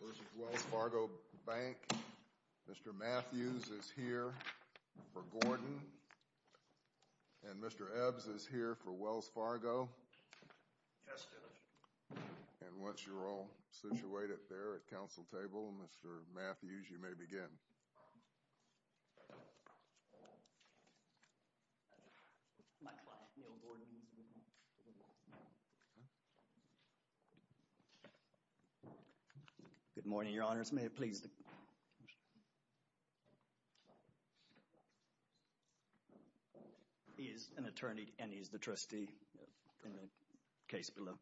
This is Wells Fargo Bank. Mr. Matthews is here for Gordon, and Mr. Ebbs is here for Wells Fargo. Yes, Dennis. And once you're all situated there at council table, Mr. Matthews, you may begin. My client, Neil Gordon, is with me. Good morning, your honors. May it please the court. He is an attorney, and he is the trustee in the case below.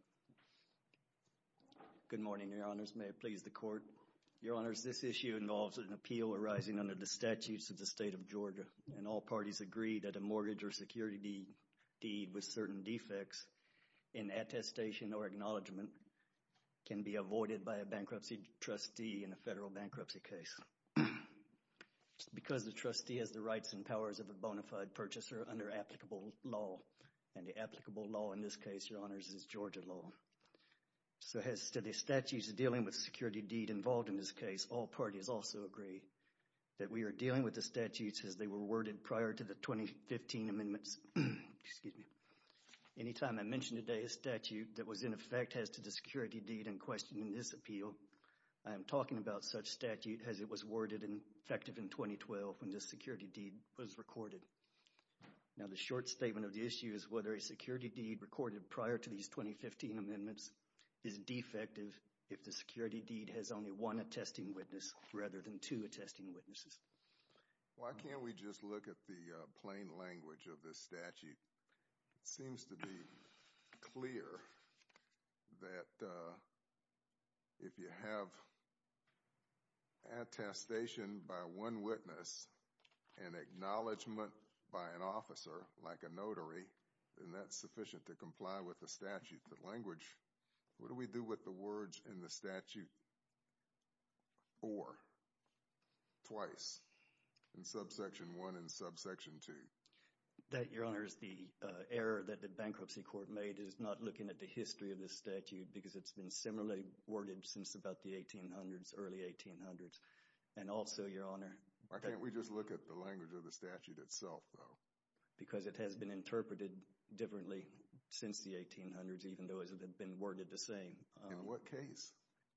Good morning, your honors. May it please the court. Your honors, this issue involves an appeal arising under the statutes of the state of Georgia. And all parties agree that a mortgage or security deed with certain defects in attestation or acknowledgement can be avoided by a bankruptcy trustee in a federal bankruptcy case because the trustee has the rights and powers of a bona fide purchaser under applicable law. And the applicable law in this case, your honors, is Georgia law. So as to the statutes dealing with security deed involved in this case, all parties also agree that we are dealing with the statutes as they were worded prior to the 2015 amendments. Anytime I mention today a statute that was in effect as to the security deed in question in this appeal, I am talking about such statute as it was worded and effective in 2012 when this security deed was recorded. Now the short statement of the issue is whether a security deed recorded prior to these 2015 amendments is defective if the security deed has only one attesting witness rather than two attesting witnesses. Why can't we just look at the plain language of this statute? It seems to be clear that if you have attestation by one witness and acknowledgement by an officer like a notary, then that's sufficient to comply with the statute. The language, what do we do with the words in the statute or, twice, in subsection 1 and subsection 2? That, your honors, the error that the bankruptcy court made is not looking at the history of the statute because it's been similarly worded since about the 1800s, early 1800s. And also, your honor. Why can't we just look at the language of the statute itself though? Because it has been interpreted differently since the 1800s even though it had been worded the same. In what case?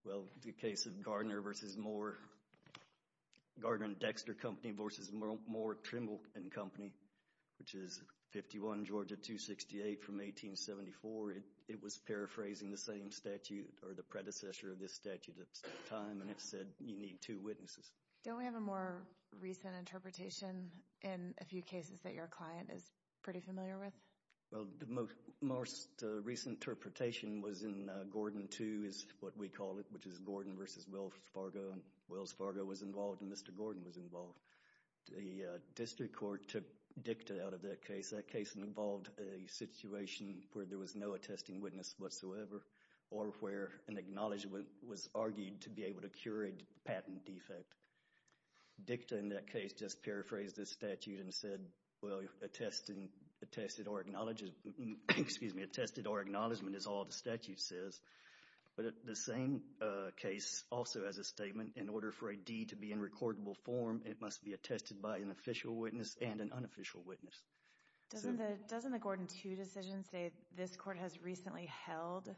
Well, the case of Gardner v. Moore, Gardner and Dexter Company v. Moore, Trimble and Company, which is 51 Georgia 268 from 1874. It was paraphrasing the same statute or the predecessor of this statute at the time and it said you need two witnesses. Don't we have a more recent interpretation in a few cases that your client is pretty familiar with? Well, the most recent interpretation was in Gordon 2 is what we call it, which is Gordon v. Wells Fargo. Wells Fargo was involved and Mr. Gordon was involved. The district court took dicta out of that case. That case involved a situation where there was no attesting witness whatsoever or where an acknowledgment was argued to be able to cure a patent defect. Dicta in that case just paraphrased the statute and said, well, attested or acknowledgment is all the statute says. But the same case also has a statement. In order for a deed to be in recordable form, it must be attested by an official witness and an unofficial witness. Doesn't the Gordon 2 decision say this court has recently held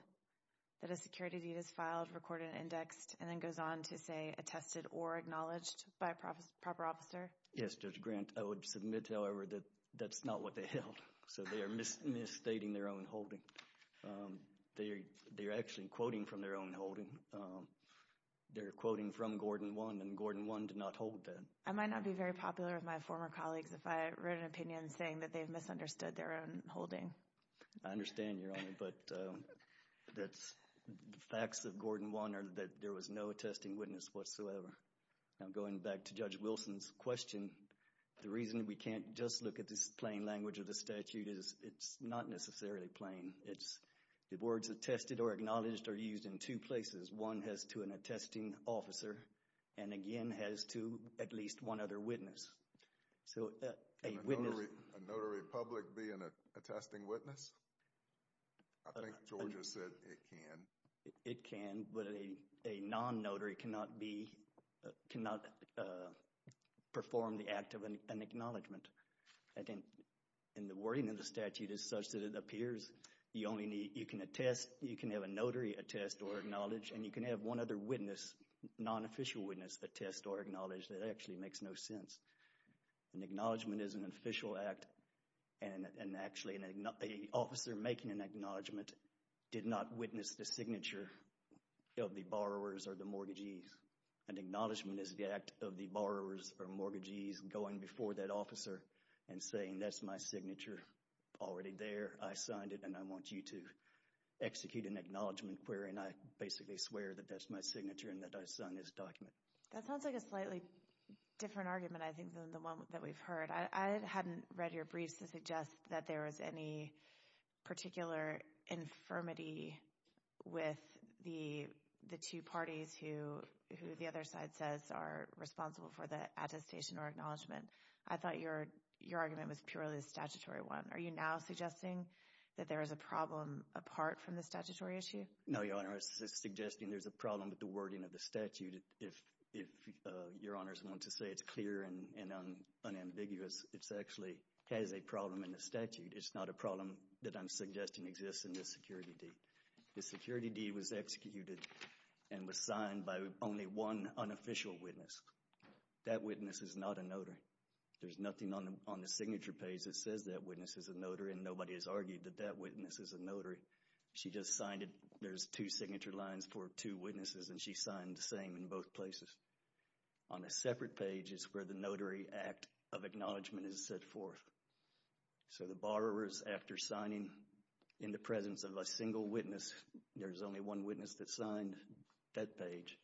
that a security deed is filed, recorded, indexed, and then goes on to say attested or acknowledged by a proper officer? Yes, Judge Grant. I would submit, however, that that's not what they held. So they are misstating their own holding. They're actually quoting from their own holding. They're quoting from Gordon 1 and Gordon 1 did not hold that. I might not be very popular with my former colleagues if I wrote an opinion saying that they've misunderstood their own holding. I understand, Your Honor, but the facts of Gordon 1 are that there was no attesting witness whatsoever. Now, going back to Judge Wilson's question, the reason we can't just look at this plain language of the statute is it's not necessarily plain. The words attested or acknowledged are used in two places. One has to an attesting officer and, again, has to at least one other witness. So a witness— Can a notary public be an attesting witness? I think Georgia said it can. It can, but a non-notary cannot be—cannot perform the act of an acknowledgment. I think the wording of the statute is such that it appears you only need—you can attest, you can have a notary attest or acknowledge, and you can have one other witness, non-official witness, attest or acknowledge. That actually makes no sense. An acknowledgment is an official act, and actually an officer making an acknowledgment did not witness the signature of the borrowers or the mortgagees. An acknowledgment is the act of the borrowers or mortgagees going before that officer and saying, that's my signature already there. I signed it, and I want you to execute an acknowledgment query, and I basically swear that that's my signature and that I signed this document. That sounds like a slightly different argument, I think, than the one that we've heard. I hadn't read your briefs to suggest that there was any particular infirmity with the two parties who the other side says are responsible for the attestation or acknowledgment. I thought your argument was purely a statutory one. Are you now suggesting that there is a problem apart from the statutory issue? No, Your Honor. I'm not suggesting there's a problem with the wording of the statute. If Your Honors want to say it's clear and unambiguous, it actually has a problem in the statute. It's not a problem that I'm suggesting exists in this security deed. The security deed was executed and was signed by only one unofficial witness. That witness is not a notary. There's nothing on the signature page that says that witness is a notary, and nobody has argued that that witness is a notary. She just signed it. There's two signature lines for two witnesses, and she signed the same in both places. On a separate page is where the notary act of acknowledgment is set forth. So the borrowers, after signing in the presence of a single witness, there's only one witness that signed that page,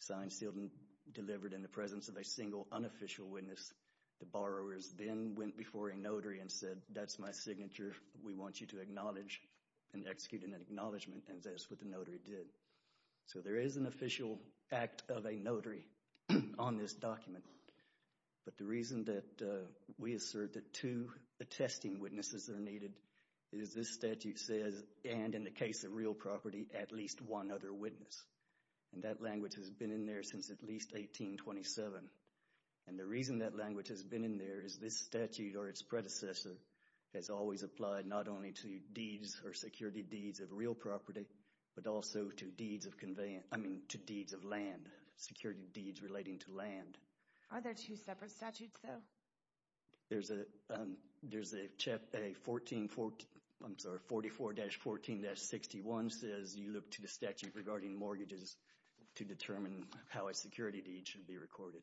signed, sealed, and delivered in the presence of a single unofficial witness. The borrowers then went before a notary and said, that's my signature. We want you to acknowledge and execute an acknowledgment, and that's what the notary did. So there is an official act of a notary on this document. But the reason that we assert that two attesting witnesses are needed is this statute says, and in the case of real property, at least one other witness. And that language has been in there since at least 1827. And the reason that language has been in there is this statute, or its predecessor, has always applied not only to deeds or security deeds of real property, but also to deeds of land, security deeds relating to land. Are there two separate statutes, though? There's a chapter, 44-14-61 says you look to the statute regarding mortgages to determine how a security deed should be recorded.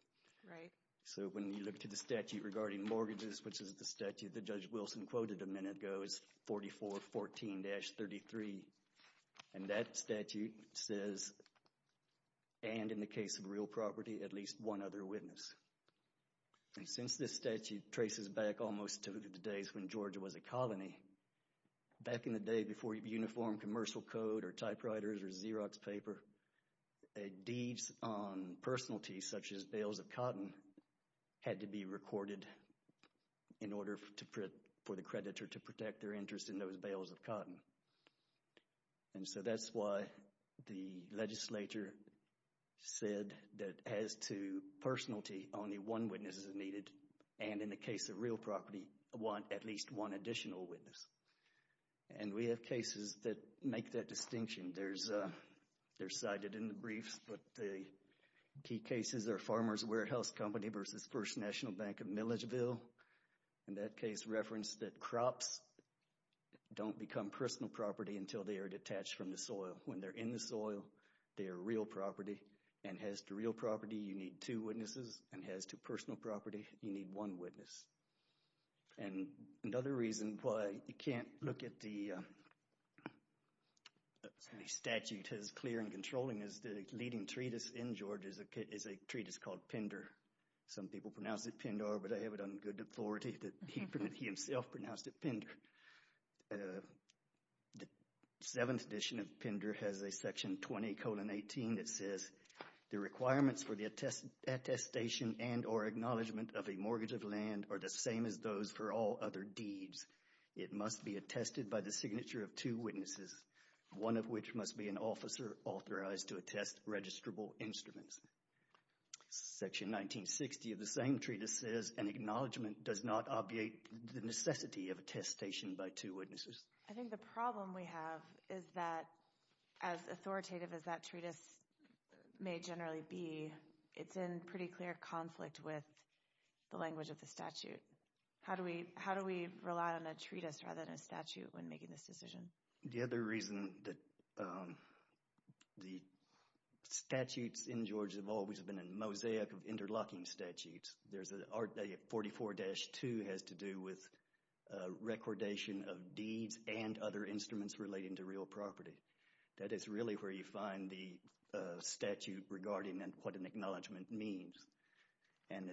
Right. So when you look to the statute regarding mortgages, which is the statute that Judge Wilson quoted a minute ago, it's 44-14-33. And that statute says, and in the case of real property, at least one other witness. And since this statute traces back almost to the days when Georgia was a colony, back in the day before uniformed commercial code or typewriters or Xerox paper, deeds on personalities such as bales of cotton had to be recorded in order for the creditor to protect their interest in those bales of cotton. And so that's why the legislature said that as to personality, only one witness is needed, and in the case of real property, at least one additional witness. And we have cases that make that distinction. They're cited in the briefs, but the key cases are Farmers Warehouse Company versus First National Bank of Milledgeville. And that case referenced that crops don't become personal property until they are detached from the soil. When they're in the soil, they are real property. And as to real property, you need two witnesses. And as to personal property, you need one witness. And another reason why you can't look at the statute as clear and controlling is the leading treatise in Georgia is a treatise called Pindar. Some people pronounce it Pindar, but I have it on good authority that he himself pronounced it Pindar. The 7th edition of Pindar has a section 20-18 that says, the requirements for the attestation and or acknowledgement of a mortgage of land are the same as those for all other deeds. It must be attested by the signature of two witnesses, one of which must be an officer authorized to attest registrable instruments. Section 1960 of the same treatise says, an acknowledgement does not obviate the necessity of attestation by two witnesses. I think the problem we have is that as authoritative as that treatise may generally be, it's in pretty clear conflict with the language of the statute. How do we rely on a treatise rather than a statute when making this decision? The other reason that the statutes in Georgia have always been a mosaic of interlocking statutes, 44-2 has to do with recordation of deeds and other instruments relating to real property. That is really where you find the statute regarding what an acknowledgement means. And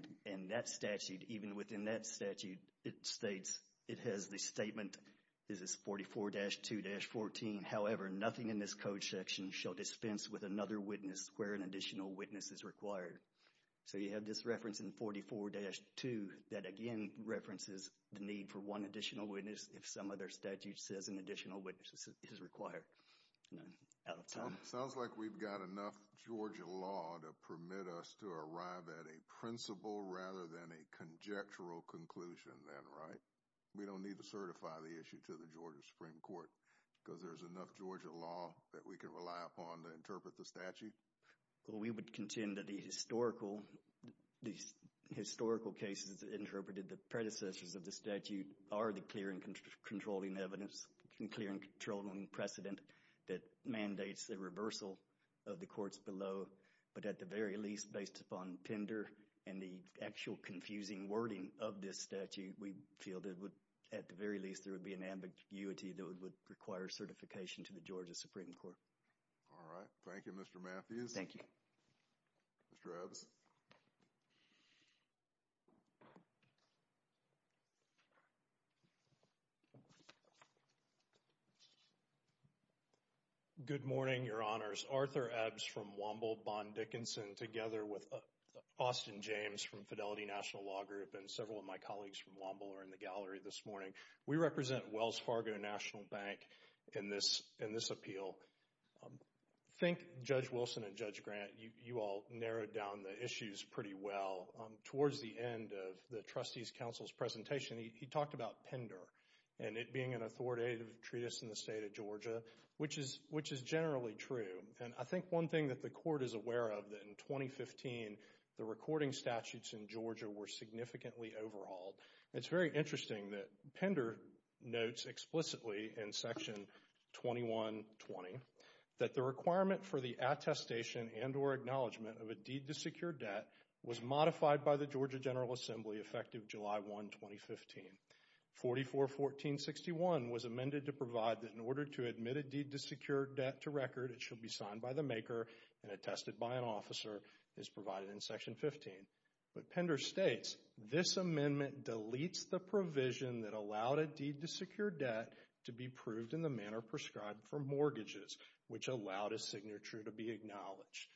that statute, even within that statute, it states, it has the statement, this is 44-2-14, however, nothing in this code section shall dispense with another witness where an additional witness is required. So you have this reference in 44-2 that again references the need for one additional witness if some other statute says an additional witness is required. Out of time. Sounds like we've got enough Georgia law to permit us to arrive at a principle rather than a conjectural conclusion then, right? We don't need to certify the issue to the Georgia Supreme Court because there's enough Georgia law that we can rely upon to interpret the statute? Well, we would contend that the historical cases interpreted, the predecessors of the statute are the clear and controlling evidence, clear and controlling precedent that mandates the reversal of the courts below. But at the very least, based upon tender and the actual confusing wording of this statute, we feel that at the very least there would be an ambiguity that would require certification to the Georgia Supreme Court. All right. Thank you, Mr. Matthews. Thank you. Mr. Ebbs. Good morning, Your Honors. Arthur Ebbs from Womble, Bon Dickinson, together with Austin James from Fidelity National Law Group and several of my colleagues from Womble are in the gallery this morning. We represent Wells Fargo National Bank in this appeal. I think Judge Wilson and Judge Grant, you all narrowed down the issues pretty well. Towards the end of the Trustees Council's presentation, he talked about PENDER and it being an authoritative treatise in the state of Georgia, which is generally true. And I think one thing that the Court is aware of, that in 2015 the recording statutes in Georgia were significantly overhauled. It's very interesting that PENDER notes explicitly in Section 2120 that the requirement for the attestation and or acknowledgement of a deed to secure debt was modified by the Georgia General Assembly effective July 1, 2015. 44.14.61 was amended to provide that in order to admit a deed to secure debt to record, it should be signed by the maker and attested by an officer, as provided in Section 15. But PENDER states, this amendment deletes the provision that allowed a deed to secure debt to be proved in the manner prescribed for mortgages, which allowed a signature to be acknowledged.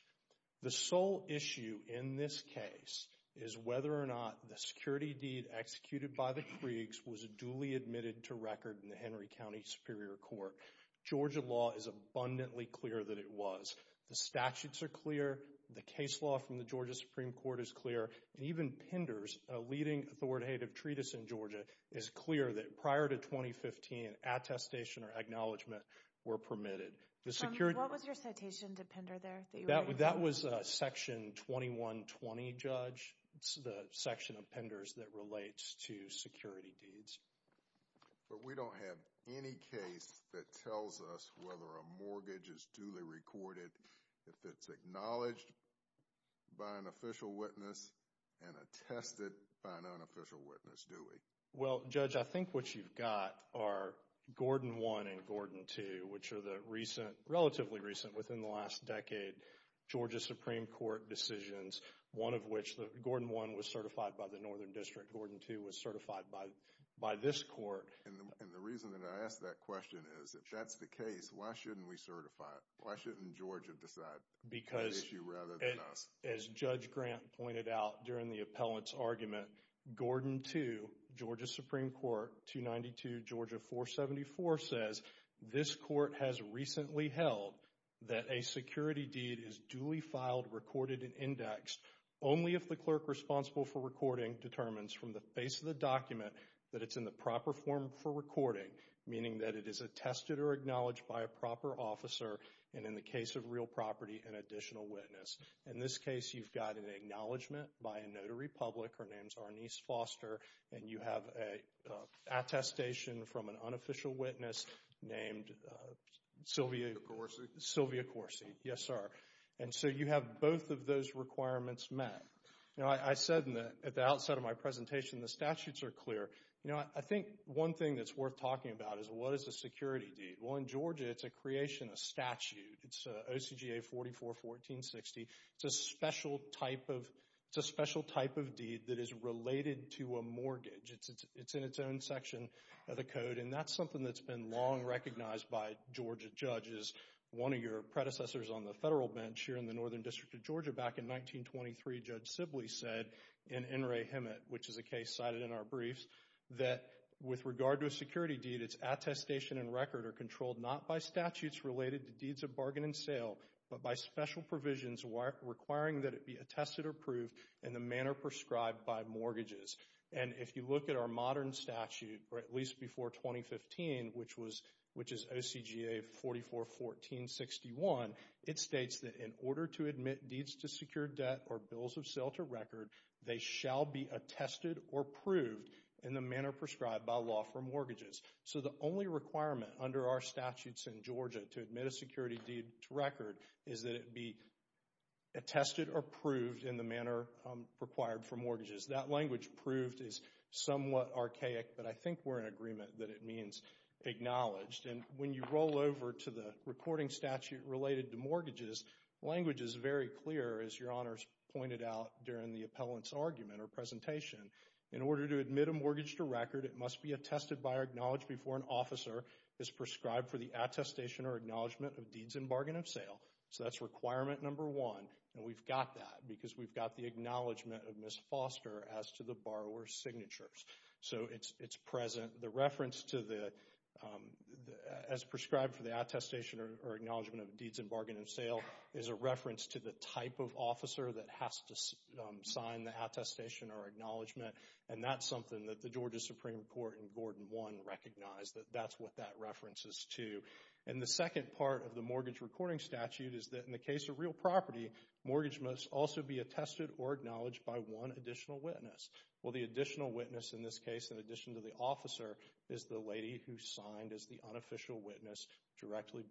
The sole issue in this case is whether or not the security deed executed by the Kriegs was duly admitted to record in the Henry County Superior Court. Georgia law is abundantly clear that it was. The statutes are clear, the case law from the Georgia Supreme Court is clear, and even PENDER's leading authoritative treatise in Georgia is clear that prior to 2015, attestation or acknowledgement were permitted. What was your citation to PENDER there? That was Section 2120, Judge. It's the section of PENDER's that relates to security deeds. But we don't have any case that tells us whether a mortgage is duly recorded if it's acknowledged by an official witness and attested by an unofficial witness, do we? Well, Judge, I think what you've got are Gordon 1 and Gordon 2, which are the recent, relatively recent within the last decade, Georgia Supreme Court decisions, one of which Gordon 1 was certified by the Northern District, Gordon 2 was certified by this court. And the reason that I ask that question is if that's the case, why shouldn't we certify it? Why shouldn't Georgia decide the issue rather than us? As Judge Grant pointed out during the appellant's argument, Gordon 2, Georgia Supreme Court, 292 Georgia 474, says, this court has recently held that a security deed is duly filed, recorded, and indexed only if the clerk responsible for recording determines from the face of the document that it's in the proper form for recording, meaning that it is attested or acknowledged by a proper officer, and in the case of real property, an additional witness. In this case, you've got an acknowledgment by a notary public, her name's Arnice Foster, and you have an attestation from an unofficial witness named Sylvia Corsi. Yes, sir. And so you have both of those requirements met. You know, I said at the outset of my presentation the statutes are clear. You know, I think one thing that's worth talking about is what is a security deed? Well, in Georgia, it's a creation, a statute. It's OCGA 44-1460. It's a special type of deed that is related to a mortgage. It's in its own section of the code, and that's something that's been long recognized by Georgia judges. One of your predecessors on the federal bench here in the Northern District of Georgia back in 1923, Judge Sibley, said in N. Ray Hemet, which is a case cited in our briefs, that with regard to a security deed, its attestation and record are controlled not by statutes related to deeds of bargain and sale, but by special provisions requiring that it be attested or proved in the manner prescribed by mortgages. And if you look at our modern statute, or at least before 2015, which is OCGA 44-1461, it states that in order to admit deeds to secure debt or bills of sale to record, they shall be attested or proved in the manner prescribed by law for mortgages. So the only requirement under our statutes in Georgia to admit a security deed to record is that it be attested or proved in the manner required for mortgages. That language, proved, is somewhat archaic, but I think we're in agreement that it means acknowledged. And when you roll over to the recording statute related to mortgages, language is very clear, as Your Honors pointed out during the appellant's argument or presentation. In order to admit a mortgage to record, it must be attested by or acknowledged before an officer as prescribed for the attestation or acknowledgement of deeds in bargain and sale. So that's requirement number one, and we've got that because we've got the acknowledgement of Ms. Foster as to the borrower's signatures. So it's present. The reference to the, as prescribed for the attestation or acknowledgement of deeds in bargain and sale, is a reference to the type of officer that has to sign the attestation or acknowledgement, and that's something that the Georgia Supreme Court in Gordon 1 recognized, that that's what that reference is to. And the second part of the mortgage recording statute is that in the case of real property, mortgage must also be attested or acknowledged by one additional witness. Well, the additional witness in this case, in addition to the officer, is the lady who signed as the unofficial witness directly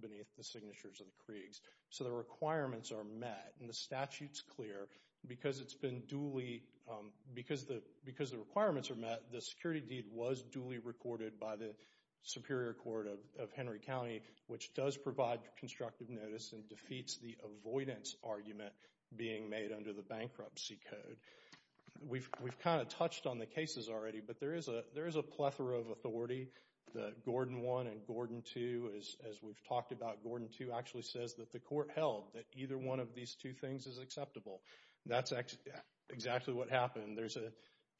beneath the signatures of the Kriegs. So the requirements are met, and the statute's clear because it's been duly, because the requirements are met, the security deed was duly recorded by the Superior Court of Henry County, which does provide constructive notice and defeats the avoidance argument being made under the bankruptcy code. We've kind of touched on the cases already, but there is a plethora of authority. The Gordon 1 and Gordon 2, as we've talked about, Gordon 2 actually says that the court held that either one of these two things is acceptable. That's exactly what happened. There's a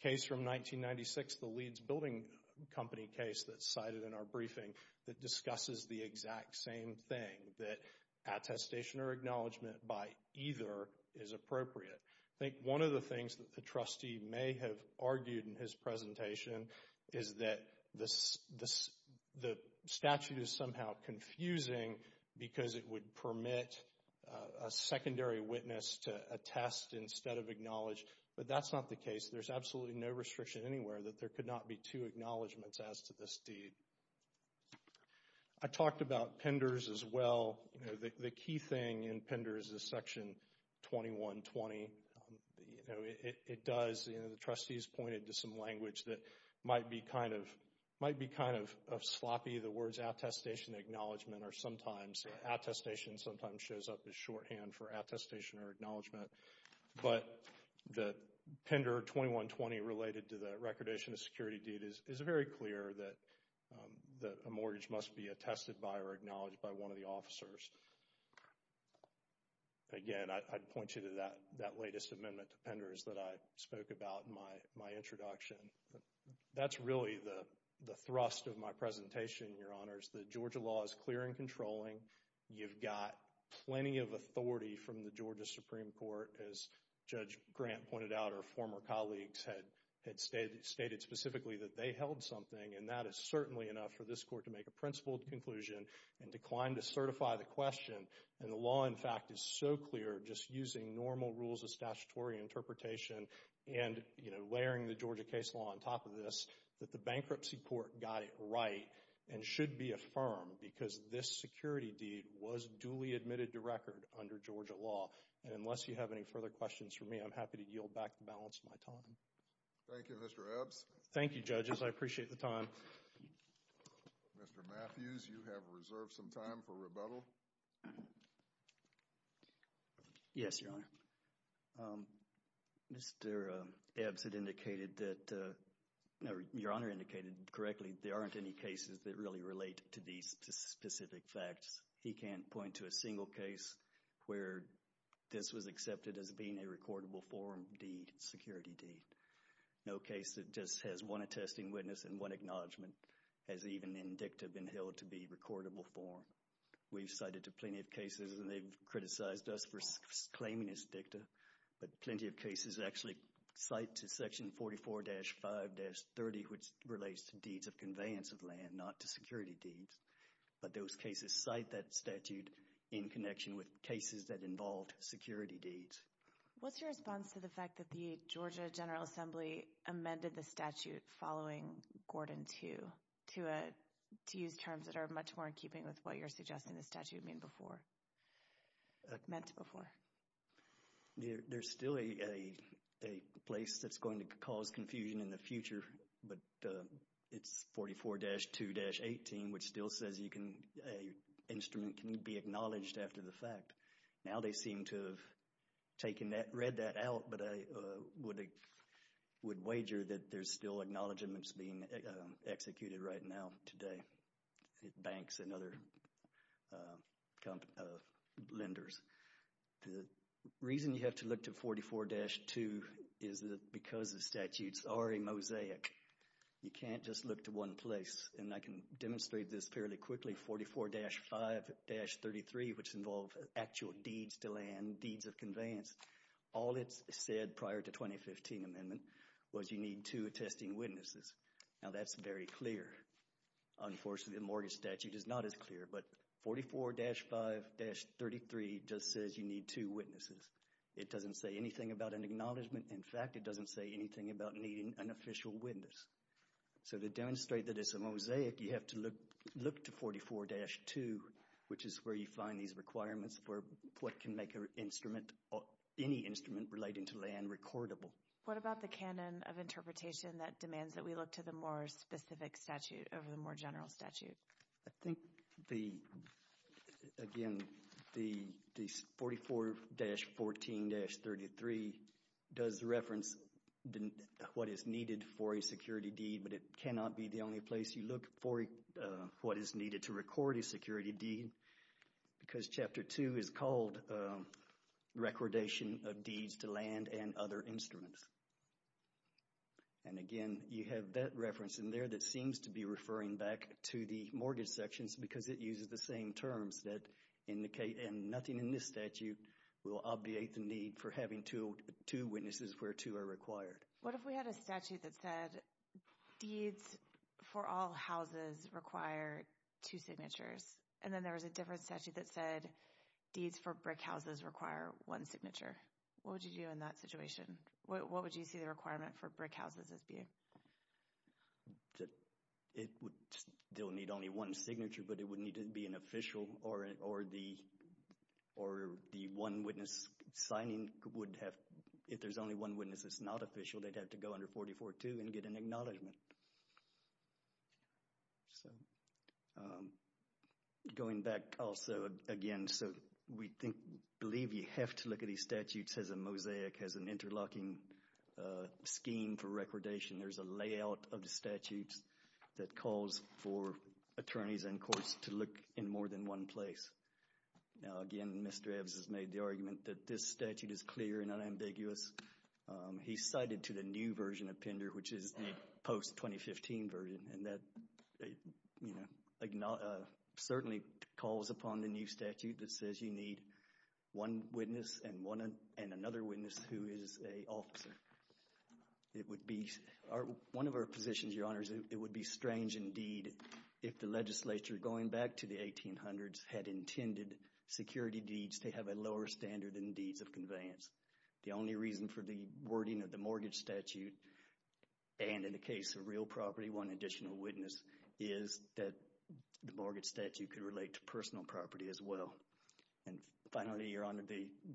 case from 1996, the Leeds Building Company case that's cited in our briefing, that discusses the exact same thing, that attestation or acknowledgement by either is appropriate. I think one of the things that the trustee may have argued in his presentation is that the statute is somehow confusing because it would permit a secondary witness to attest instead of acknowledge, but that's not the case. There's absolutely no restriction anywhere that there could not be two acknowledgements as to this deed. I talked about penders as well. The key thing in penders is Section 2120. It does, the trustees pointed to some language that might be kind of sloppy. The words attestation, acknowledgement, or sometimes attestation sometimes shows up as shorthand for attestation or acknowledgement. But the Pender 2120 related to the recordation of security deed is very clear that a mortgage must be attested by or acknowledged by one of the officers. Again, I'd point you to that latest amendment to penders that I spoke about in my introduction. That's really the thrust of my presentation, Your Honors. The Georgia law is clear and controlling. You've got plenty of authority from the Georgia Supreme Court, as Judge Grant pointed out, or former colleagues had stated specifically that they held something, and that is certainly enough for this court to make a principled conclusion and decline to certify the question. And the law, in fact, is so clear just using normal rules of statutory interpretation and layering the Georgia case law on top of this that the bankruptcy court got it right and should be affirmed because this security deed was duly admitted to record under Georgia law. And unless you have any further questions for me, I'm happy to yield back the balance of my time. Thank you, Mr. Ebbs. Thank you, Judges. I appreciate the time. Mr. Matthews, you have reserved some time for rebuttal. Yes, Your Honor. Mr. Ebbs had indicated that, no, Your Honor indicated correctly there aren't any cases that really relate to these specific facts. He can't point to a single case where this was accepted as being a recordable form deed, security deed. No case that just has one attesting witness and one acknowledgment has even in dicta been held to be recordable form. We've cited plenty of cases, and they've criticized us for claiming it's dicta, but plenty of cases actually cite section 44-5-30, which relates to deeds of conveyance of land, not to security deeds. But those cases cite that statute in connection with cases that involved security deeds. What's your response to the fact that the Georgia General Assembly amended the statute following Gordon 2 to use terms that are much more in keeping with what you're suggesting the statute meant before? There's still a place that's going to cause confusion in the future, but it's 44-2-18, which still says a instrument can be acknowledged after the fact. Now they seem to have read that out, but I would wager that there's still acknowledgments being executed right now today at banks and other lenders. The reason you have to look to 44-2 is because the statutes are a mosaic. You can't just look to one place, and I can demonstrate this fairly quickly. 44-5-33, which involved actual deeds to land, deeds of conveyance, all it said prior to 2015 amendment was you need two attesting witnesses. Now that's very clear. Unfortunately, the mortgage statute is not as clear, but 44-5-33 just says you need two witnesses. It doesn't say anything about an acknowledgment. In fact, it doesn't say anything about needing an official witness. So to demonstrate that it's a mosaic, you have to look to 44-2, which is where you find these requirements for what can make any instrument relating to land recordable. What about the canon of interpretation that demands that we look to the more specific statute over the more general statute? I think, again, the 44-14-33 does reference what is needed for a security deed, but it cannot be the only place you look for what is needed to record a security deed because Chapter 2 is called Recordation of Deeds to Land and Other Instruments. And again, you have that reference in there that seems to be referring back to the mortgage sections because it uses the same terms that indicate, and nothing in this statute will obviate the need for having two witnesses where two are required. What if we had a statute that said deeds for all houses require two signatures, and then there was a different statute that said deeds for brick houses require one signature? What would you do in that situation? What would you see the requirement for brick houses as being? It would still need only one signature, but it would need to be an official, or the one witness signing would have, if there's only one witness that's not official, they'd have to go under 44-2 and get an acknowledgment. So going back also again, so we believe you have to look at these statutes as a mosaic, as an interlocking scheme for recordation. There's a layout of the statutes that calls for attorneys and courts to look in more than one place. Now again, Mr. Eves has made the argument that this statute is clear and unambiguous. He's cited to the new version of PENDER, which is the post-2015 version, and that certainly calls upon the new statute that says you need one witness and another witness who is an officer. One of our positions, Your Honors, it would be strange indeed if the legislature, going back to the 1800s, had intended security deeds to have a lower standard than deeds of conveyance. The only reason for the wording of the mortgage statute, and in the case of real property, one additional witness, is that the mortgage statute could relate to personal property as well. And finally, Your Honor,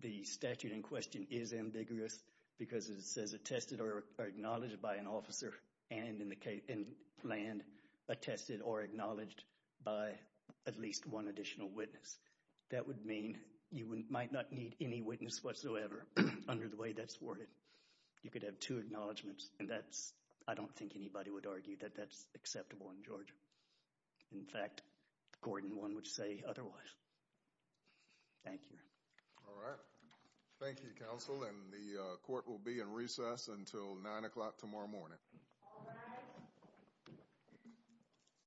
the statute in question is ambiguous because it says attested or acknowledged by an officer, and in the land, attested or acknowledged by at least one additional witness. That would mean you might not need any witness whatsoever under the way that's worded. You could have two acknowledgements, and that's, I don't think anybody would argue that that's acceptable in Georgia. In fact, Gordon, one would say otherwise. Thank you. All right. Thank you, counsel, and the court will be in recess until 9 o'clock tomorrow morning. All rise.